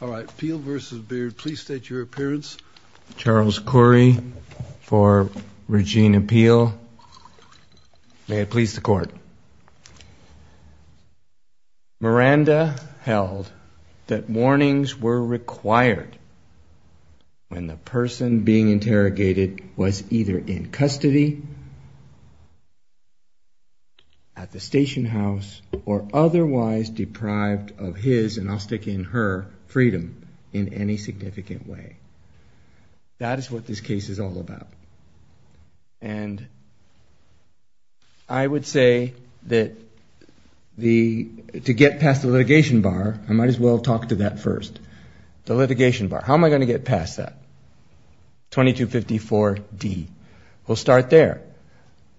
All right, Peel v. Beard, please state your appearance. Charles Corey for Regina Peel. May it please the Court. Miranda held that warnings were required when the person being interrogated was either in custody at the station house or otherwise deprived of his, and I'll stick in her, freedom in any significant way. That is what this case is all about. And I would say that to get past the litigation bar, I might as well talk to that first. The litigation bar, how am I going to get past that? 2254 D. We'll start there.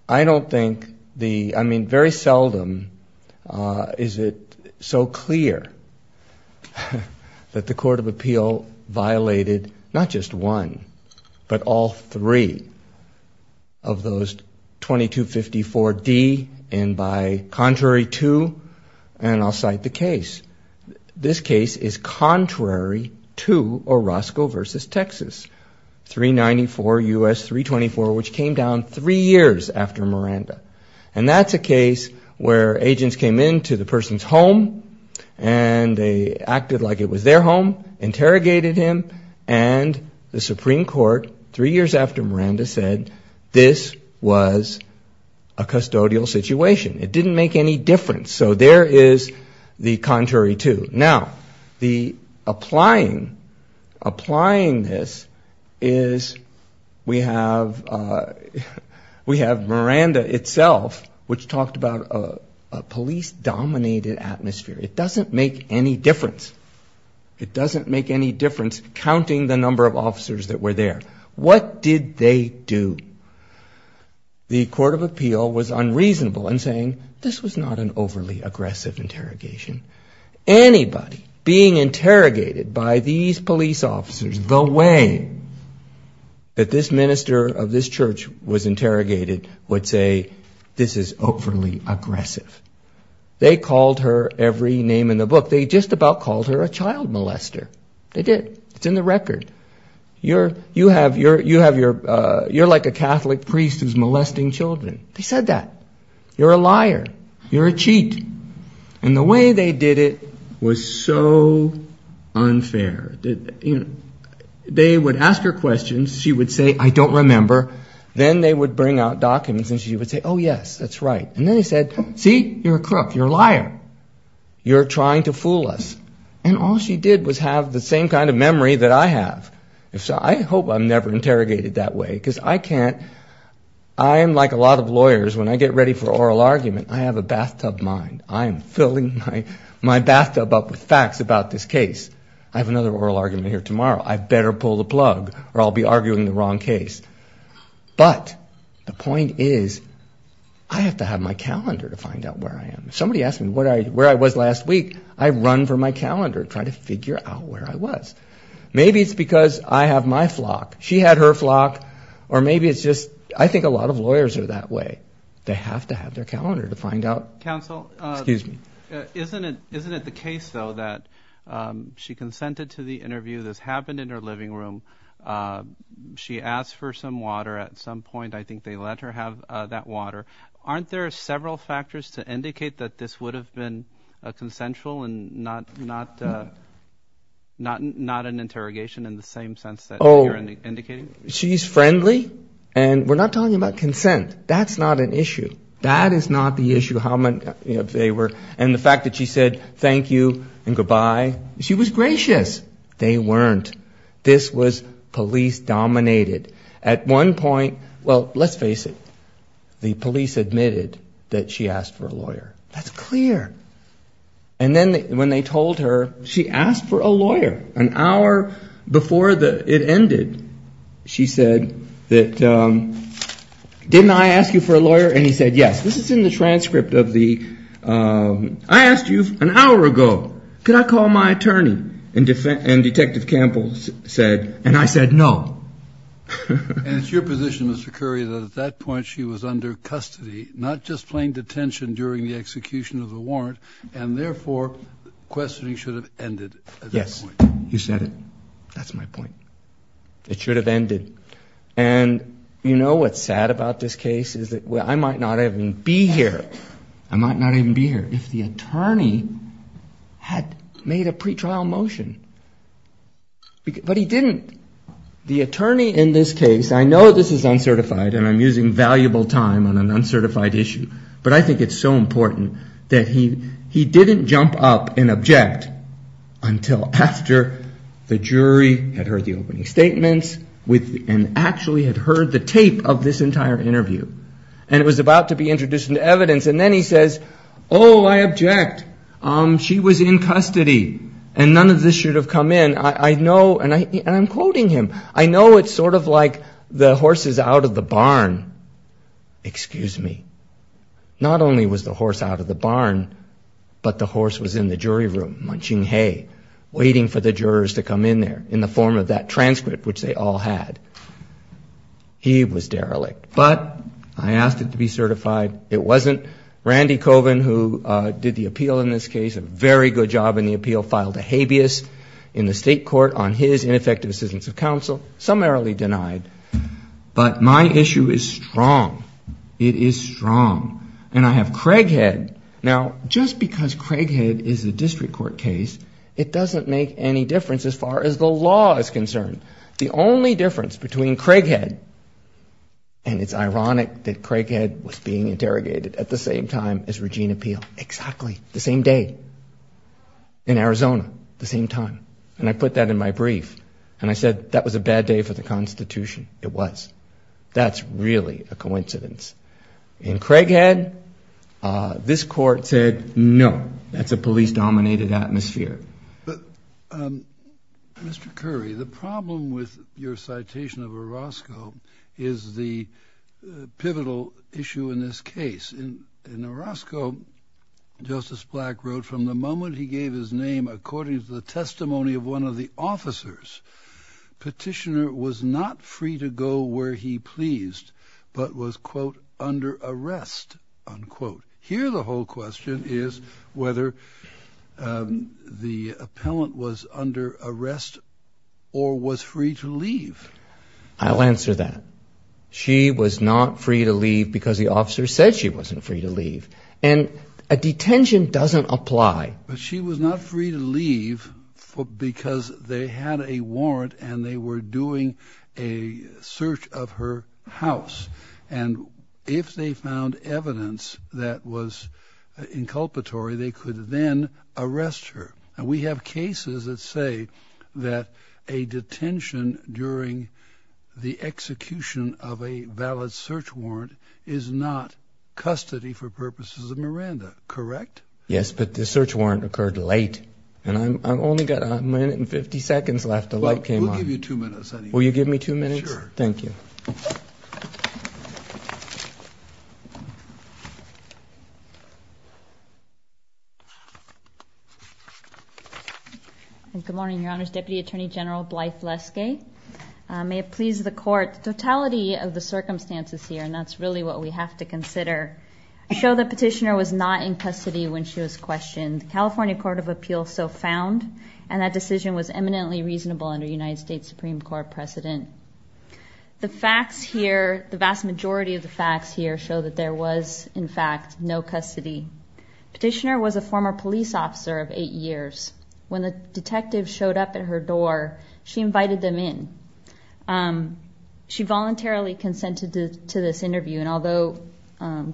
I don't think the ‑‑ I mean, very seldom is it so clear that the Court of Appeal violated not just one but all three of those 2254 D and by contrary two, and I'll cite the case. This case is contrary to Orozco v. Texas, 394 U.S. 324, which came down three years after Miranda. And that's a case where agents came into the person's home and they acted like it was their home, interrogated him, and the Supreme Court, three years after Miranda, said this was a custodial situation. It didn't make any difference. So there is the contrary two. Now, the applying this is we have Miranda itself, which talked about a police‑dominated atmosphere. It doesn't make any difference. It doesn't make any difference counting the number of officers that were there. What did they do? The Court of Appeal was unreasonable in saying this was not an overly aggressive interrogation. Anybody being interrogated by these police officers, the way that this minister of this church was interrogated, would say this is overly aggressive. They called her every name in the book. They just about called her a child molester. They did. It's in the record. You're like a Catholic priest who's molesting children. They said that. You're a liar. You're a cheat. And the way they did it was so unfair. They would ask her questions. She would say, I don't remember. Then they would bring out documents and she would say, oh, yes, that's right. And then they said, see, you're a crook. You're a liar. You're trying to fool us. And all she did was have the same kind of memory that I have. I hope I'm never interrogated that way because I can't. I am like a lot of lawyers. When I get ready for an oral argument, I have a bathtub mind. I am filling my bathtub up with facts about this case. I have another oral argument here tomorrow. I better pull the plug or I'll be arguing the wrong case. But the point is I have to have my calendar to find out where I am. Somebody asked me where I was last week. I run for my calendar trying to figure out where I was. Maybe it's because I have my flock. She had her flock. Or maybe it's just I think a lot of lawyers are that way. They have to have their calendar to find out. Counsel? Excuse me. Isn't it the case, though, that she consented to the interview? This happened in her living room. She asked for some water at some point. I think they let her have that water. Aren't there several factors to indicate that this would have been a consensual and not an interrogation in the same sense that you're indicating? She's friendly. And we're not talking about consent. That's not an issue. That is not the issue. And the fact that she said thank you and goodbye, she was gracious. They weren't. This was police dominated. At one point, well, let's face it, the police admitted that she asked for a lawyer. That's clear. And then when they told her, she asked for a lawyer. An hour before it ended, she said, didn't I ask you for a lawyer? And he said, yes. This is in the transcript of the, I asked you an hour ago, could I call my attorney? And Detective Campbell said, and I said no. And it's your position, Mr. Curry, that at that point she was under custody, not just plain detention during the execution of the warrant, and therefore questioning should have ended at that point. Yes, you said it. That's my point. It should have ended. And you know what's sad about this case is that I might not even be here. I might not even be here. if the attorney had made a pretrial motion. But he didn't. The attorney in this case, I know this is uncertified, and I'm using valuable time on an uncertified issue, but I think it's so important that he didn't jump up and object until after the jury had heard the opening statements and actually had heard the tape of this entire interview. And it was about to be introduced into evidence, and then he says, oh, I object. She was in custody, and none of this should have come in. I know, and I'm quoting him, I know it's sort of like the horse is out of the barn. Excuse me. Not only was the horse out of the barn, but the horse was in the jury room munching hay, waiting for the jurors to come in there in the form of that transcript, which they all had. He was derelict. But I asked it to be certified. It wasn't. Randy Coven, who did the appeal in this case, a very good job in the appeal, filed a habeas in the state court on his ineffective assistance of counsel, summarily denied. But my issue is strong. It is strong. And I have Craighead. Now, just because Craighead is a district court case, it doesn't make any difference as far as the law is concerned. The only difference between Craighead, and it's ironic that Craighead was being interrogated at the same time as Regina Peel, exactly the same day, in Arizona, the same time. And I put that in my brief. And I said, that was a bad day for the Constitution. It was. That's really a coincidence. In Craighead, this court said, no, that's a police-dominated atmosphere. Mr. Curry, the problem with your citation of Orozco is the pivotal issue in this case. In Orozco, Justice Black wrote, from the moment he gave his name according to the testimony of one of the officers, petitioner was not free to go where he pleased, but was, quote, under arrest, unquote. Here, the whole question is whether the appellant was under arrest or was free to leave. I'll answer that. She was not free to leave because the officer said she wasn't free to leave. And a detention doesn't apply. But she was not free to leave because they had a warrant and they were doing a search of her house. And if they found evidence that was inculpatory, they could then arrest her. And we have cases that say that a detention during the execution of a valid search warrant is not custody for purposes of Miranda. Correct? Yes, but the search warrant occurred late. And I've only got a minute and 50 seconds left. The light came on. We'll give you two minutes. Will you give me two minutes? Sure. Thank you. Good morning, Your Honors. Deputy Attorney General Blythe Leskay. May it please the Court, the totality of the circumstances here, and that's really what we have to consider, show the petitioner was not in custody when she was questioned, the California Court of Appeals so found, and that decision was eminently reasonable under United States Supreme Court precedent. The facts here, the vast majority of the facts here, show that there was, in fact, no custody. Petitioner was a former police officer of eight years. When the detective showed up at her door, she invited them in. She voluntarily consented to this interview, and although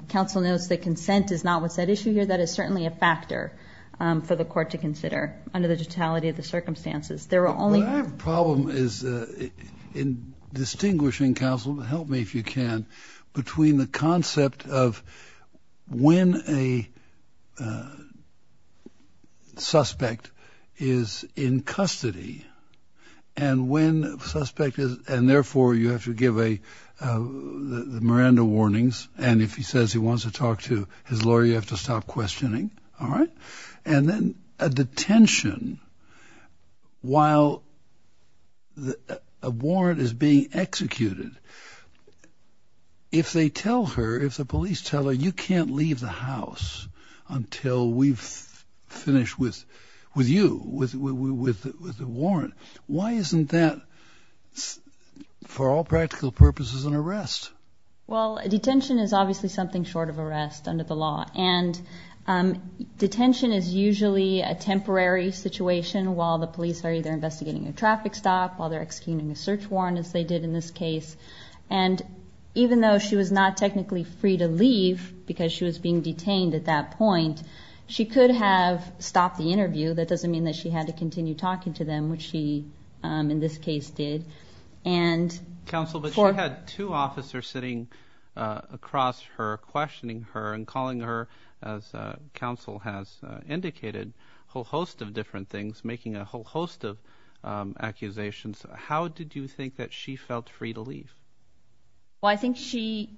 counsel notes that consent is not what's at issue here, that is certainly a factor for the Court to consider under the totality of the circumstances. There are only – What I have a problem is in distinguishing, counsel, help me if you can, between the concept of when a suspect is in custody and when a suspect is – and, therefore, you have to give the Miranda warnings, and if he says he wants to talk to his lawyer, you have to stop questioning, all right? And then a detention while a warrant is being executed. If they tell her, if the police tell her, you can't leave the house until we've finished with you, with the warrant, why isn't that, for all practical purposes, an arrest? Well, a detention is obviously something short of arrest under the law, and detention is usually a temporary situation while the police are either investigating a traffic stop, while they're executing a search warrant, as they did in this case, and even though she was not technically free to leave because she was being detained at that point, she could have stopped the interview. That doesn't mean that she had to continue talking to them, which she, in this case, did. Counsel, but she had two officers sitting across her, questioning her and calling her, as counsel has indicated, a whole host of different things, making a whole host of accusations. How did you think that she felt free to leave? Well, I think she,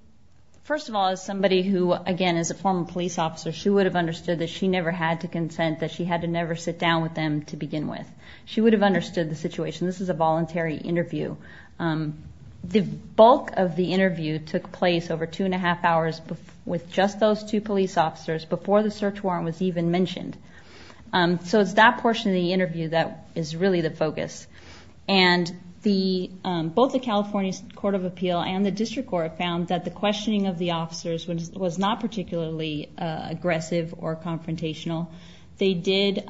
first of all, as somebody who, again, is a former police officer, she would have understood that she never had to consent, that she had to never sit down with them to begin with. She would have understood the situation. This is a voluntary interview. The bulk of the interview took place over two and a half hours with just those two police officers before the search warrant was even mentioned. So it's that portion of the interview that is really the focus. And both the California Court of Appeal and the District Court found that the questioning of the officers was not particularly aggressive or confrontational. They did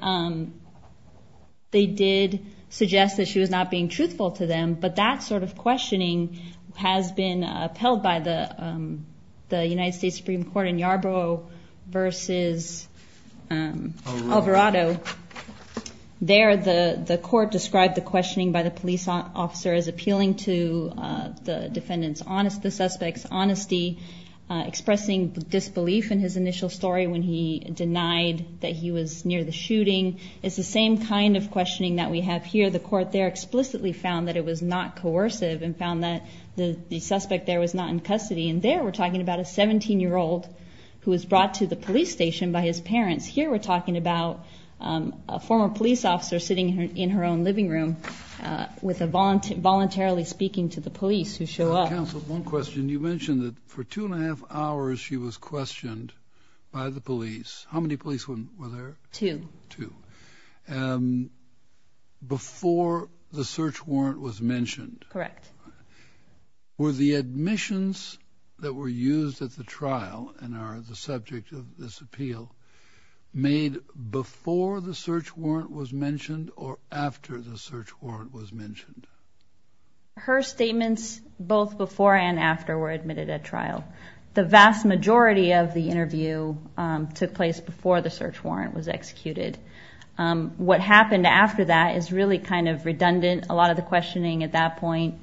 suggest that she was not being truthful to them, but that sort of questioning has been upheld by the United States Supreme Court in Yarborough versus Alvarado. There, the court described the questioning by the police officer as appealing to the suspect's honesty, expressing disbelief in his initial story when he denied that he was near the shooting. It's the same kind of questioning that we have here. The court there explicitly found that it was not coercive and found that the suspect there was not in custody. And there we're talking about a 17-year-old who was brought to the police station by his parents. Here we're talking about a former police officer sitting in her own living room voluntarily speaking to the police who show up. Counsel, one question. You mentioned that for two and a half hours she was questioned by the police. How many police were there? Two. Two. Before the search warrant was mentioned. Correct. Were the admissions that were used at the trial and are the subject of this appeal made before the search warrant was mentioned or after the search warrant was mentioned? Her statements both before and after were admitted at trial. The vast majority of the interview took place before the search warrant was executed. What happened after that is really kind of redundant. A lot of the questioning at that point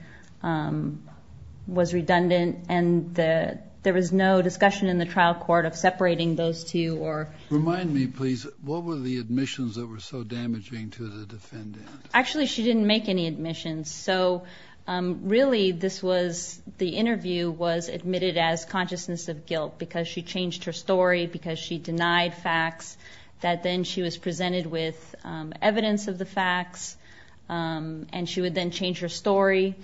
was redundant, and there was no discussion in the trial court of separating those two. Remind me, please, what were the admissions that were so damaging to the defendant? Actually, she didn't make any admissions. So really this was the interview was admitted as consciousness of guilt because she changed her story because she denied facts, that then she was presented with evidence of the facts, and she would then change her story.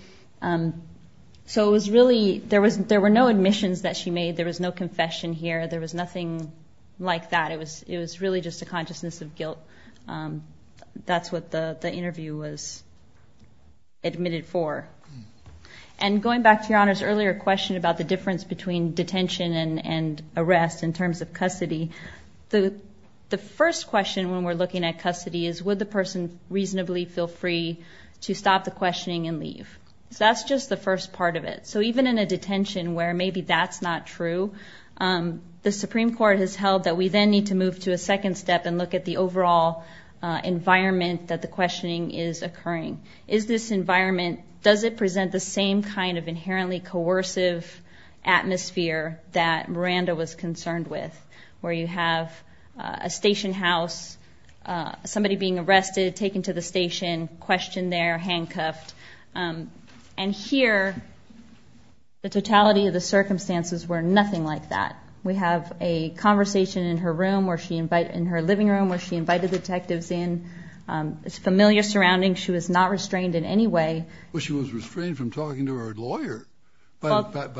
So it was really there were no admissions that she made. There was no confession here. There was nothing like that. It was really just a consciousness of guilt. So that's what the interview was admitted for. And going back to Your Honor's earlier question about the difference between detention and arrest in terms of custody, the first question when we're looking at custody is, would the person reasonably feel free to stop the questioning and leave? That's just the first part of it. So even in a detention where maybe that's not true, the Supreme Court has held that we then need to move to a second step and look at the overall environment that the questioning is occurring. Is this environment, does it present the same kind of inherently coercive atmosphere that Miranda was concerned with where you have a station house, somebody being arrested, taken to the station, questioned there, handcuffed, and here the totality of the circumstances were nothing like that. We have a conversation in her room, in her living room, where she invited detectives in. It's a familiar surrounding. She was not restrained in any way. Well, she was restrained from talking to her lawyer by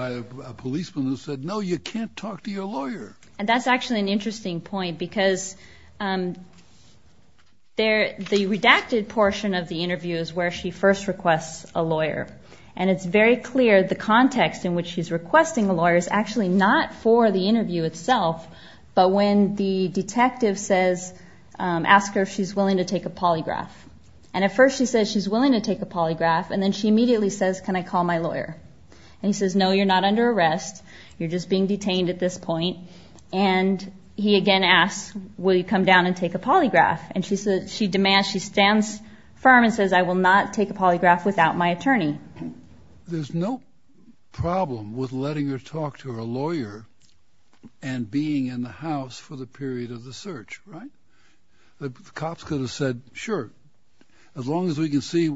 a policeman who said, no, you can't talk to your lawyer. And that's actually an interesting point because the redacted portion of the interview is where she first requests a lawyer. And it's very clear the context in which she's requesting a lawyer is actually not for the interview itself, but when the detective asks her if she's willing to take a polygraph. And at first she says she's willing to take a polygraph, and then she immediately says, can I call my lawyer? And he says, no, you're not under arrest. You're just being detained at this point. And he again asks, will you come down and take a polygraph? And she demands, she stands firm and says, I will not take a polygraph without my attorney. There's no problem with letting her talk to her lawyer and being in the house for the period of the search, right? The cops could have said, sure, as long as we can see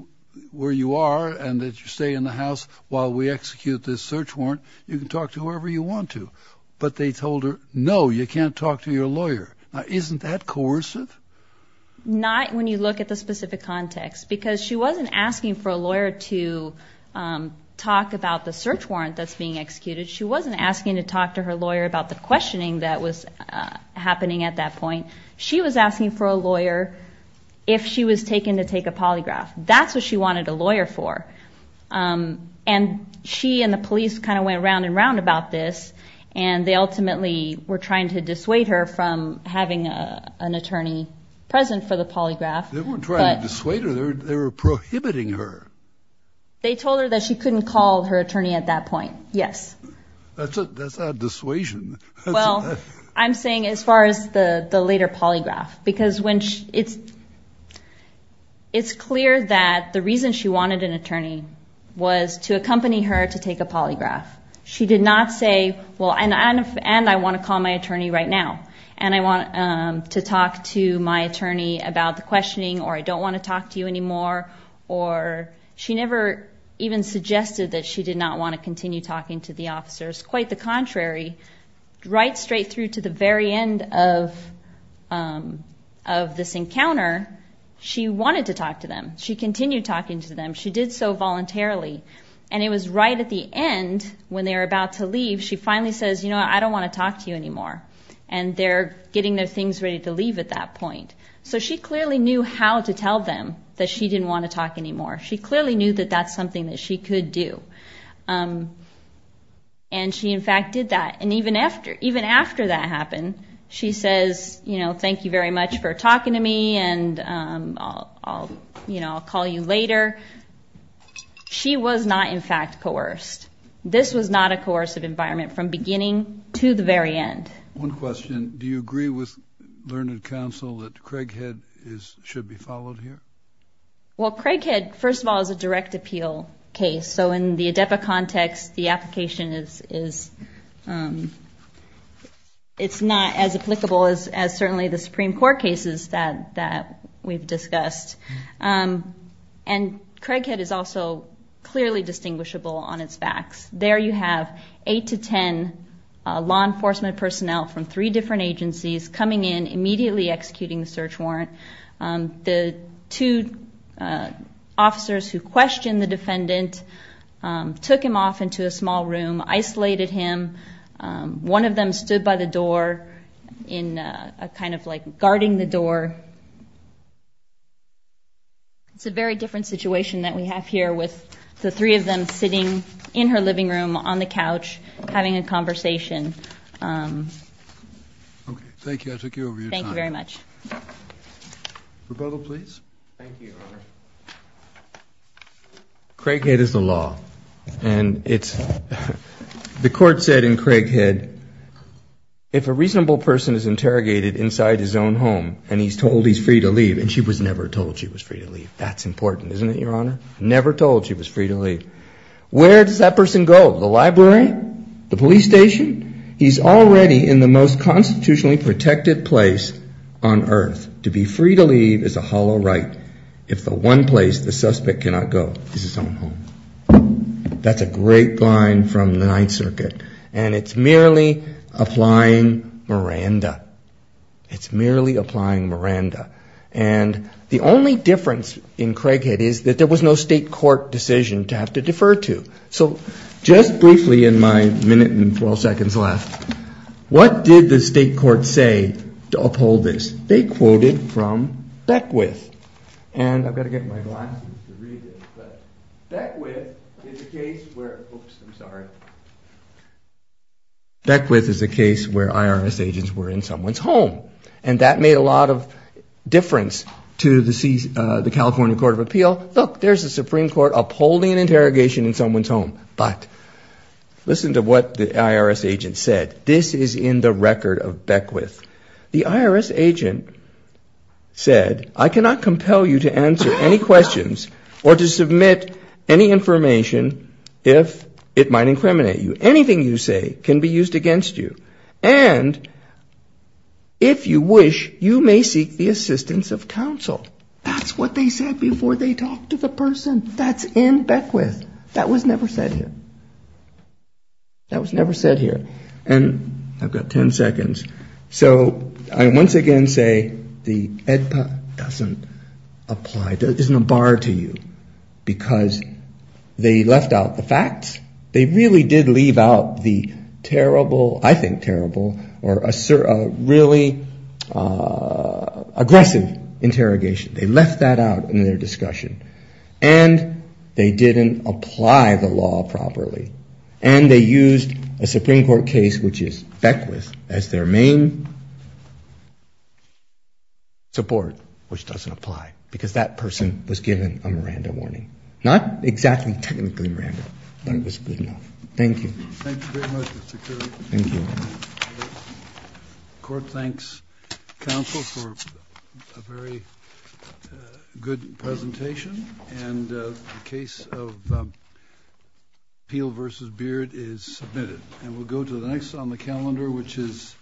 where you are and that you stay in the house while we execute this search warrant, you can talk to whoever you want to. But they told her, no, you can't talk to your lawyer. Now, isn't that coercive? Not when you look at the specific context, because she wasn't asking for a lawyer to talk about the search warrant that's being executed. She wasn't asking to talk to her lawyer about the questioning that was happening at that point. She was asking for a lawyer if she was taken to take a polygraph. That's what she wanted a lawyer for. And she and the police kind of went round and round about this, and they ultimately were trying to dissuade her from having an attorney present for the polygraph. They weren't trying to dissuade her. They were prohibiting her. They told her that she couldn't call her attorney at that point. Yes. That's not dissuasion. Well, I'm saying as far as the later polygraph, because it's clear that the reason she wanted an attorney was to accompany her to take a polygraph. She did not say, well, and I want to call my attorney right now, and I want to talk to my attorney about the questioning, or I don't want to talk to you anymore, or she never even suggested that she did not want to continue talking to the officers. Quite the contrary, right straight through to the very end of this encounter, she wanted to talk to them. She continued talking to them. She did so voluntarily. And it was right at the end when they were about to leave, she finally says, you know what, I don't want to talk to you anymore. And they're getting their things ready to leave at that point. So she clearly knew how to tell them that she didn't want to talk anymore. She clearly knew that that's something that she could do. And she, in fact, did that. And even after that happened, she says, you know, thank you very much for talking to me, and I'll call you later. She was not, in fact, coerced. This was not a coercive environment from beginning to the very end. One question. Do you agree with Learned Counsel that Craighead should be followed here? Well, Craighead, first of all, is a direct appeal case. So in the ADEPA context, the application is not as applicable as certainly the Supreme Court cases that we've discussed. And Craighead is also clearly distinguishable on its facts. There you have eight to ten law enforcement personnel from three different agencies coming in, immediately executing the search warrant. The two officers who questioned the defendant took him off into a small room, isolated him. One of them stood by the door, kind of like guarding the door. It's a very different situation that we have here with the three of them sitting in her living room, on the couch, having a conversation. Okay, thank you. I took you over your time. Thank you very much. Rebuttal, please. Thank you. Craighead is the law. The court said in Craighead, if a reasonable person is interrogated inside his own home and he's told he's free to leave, and she was never told she was free to leave. That's important, isn't it, Your Honor? Never told she was free to leave. Where does that person go? The library? The police station? He's already in the most constitutionally protected place on earth. To be free to leave is a hollow right. If the one place the suspect cannot go is his own home. That's a great line from the Ninth Circuit. And it's merely applying Miranda. It's merely applying Miranda. And the only difference in Craighead is that there was no state court decision to have to defer to. So just briefly in my minute and 12 seconds left, what did the state court say to uphold this? They quoted from Beckwith. And I've got to get my glasses to read this. But Beckwith is a case where IRS agents were in someone's home. And that made a lot of difference to the California Court of Appeal. Look, there's a Supreme Court upholding an interrogation in someone's home. But listen to what the IRS agent said. This is in the record of Beckwith. The IRS agent said, I cannot compel you to answer any questions or to submit any information if it might incriminate you. Anything you say can be used against you. And if you wish, you may seek the assistance of counsel. That's what they said before they talked to the person. That's in Beckwith. That was never said here. That was never said here. And I've got 10 seconds. So I once again say the AEDPA doesn't apply. There isn't a bar to you. Because they left out the facts. They really did leave out the terrible, I think terrible, or really aggressive interrogation. They left that out in their discussion. And they didn't apply the law properly. And they used a Supreme Court case, which is Beckwith, as their main support, which doesn't apply. Because that person was given a Miranda warning. Not exactly technically Miranda, but it was good enough. Thank you. Thank you very much, Mr. Currie. Thank you. The Court thanks counsel for a very good presentation. And the case of Peel v. Beard is submitted. And we'll go to the next on the calendar, which is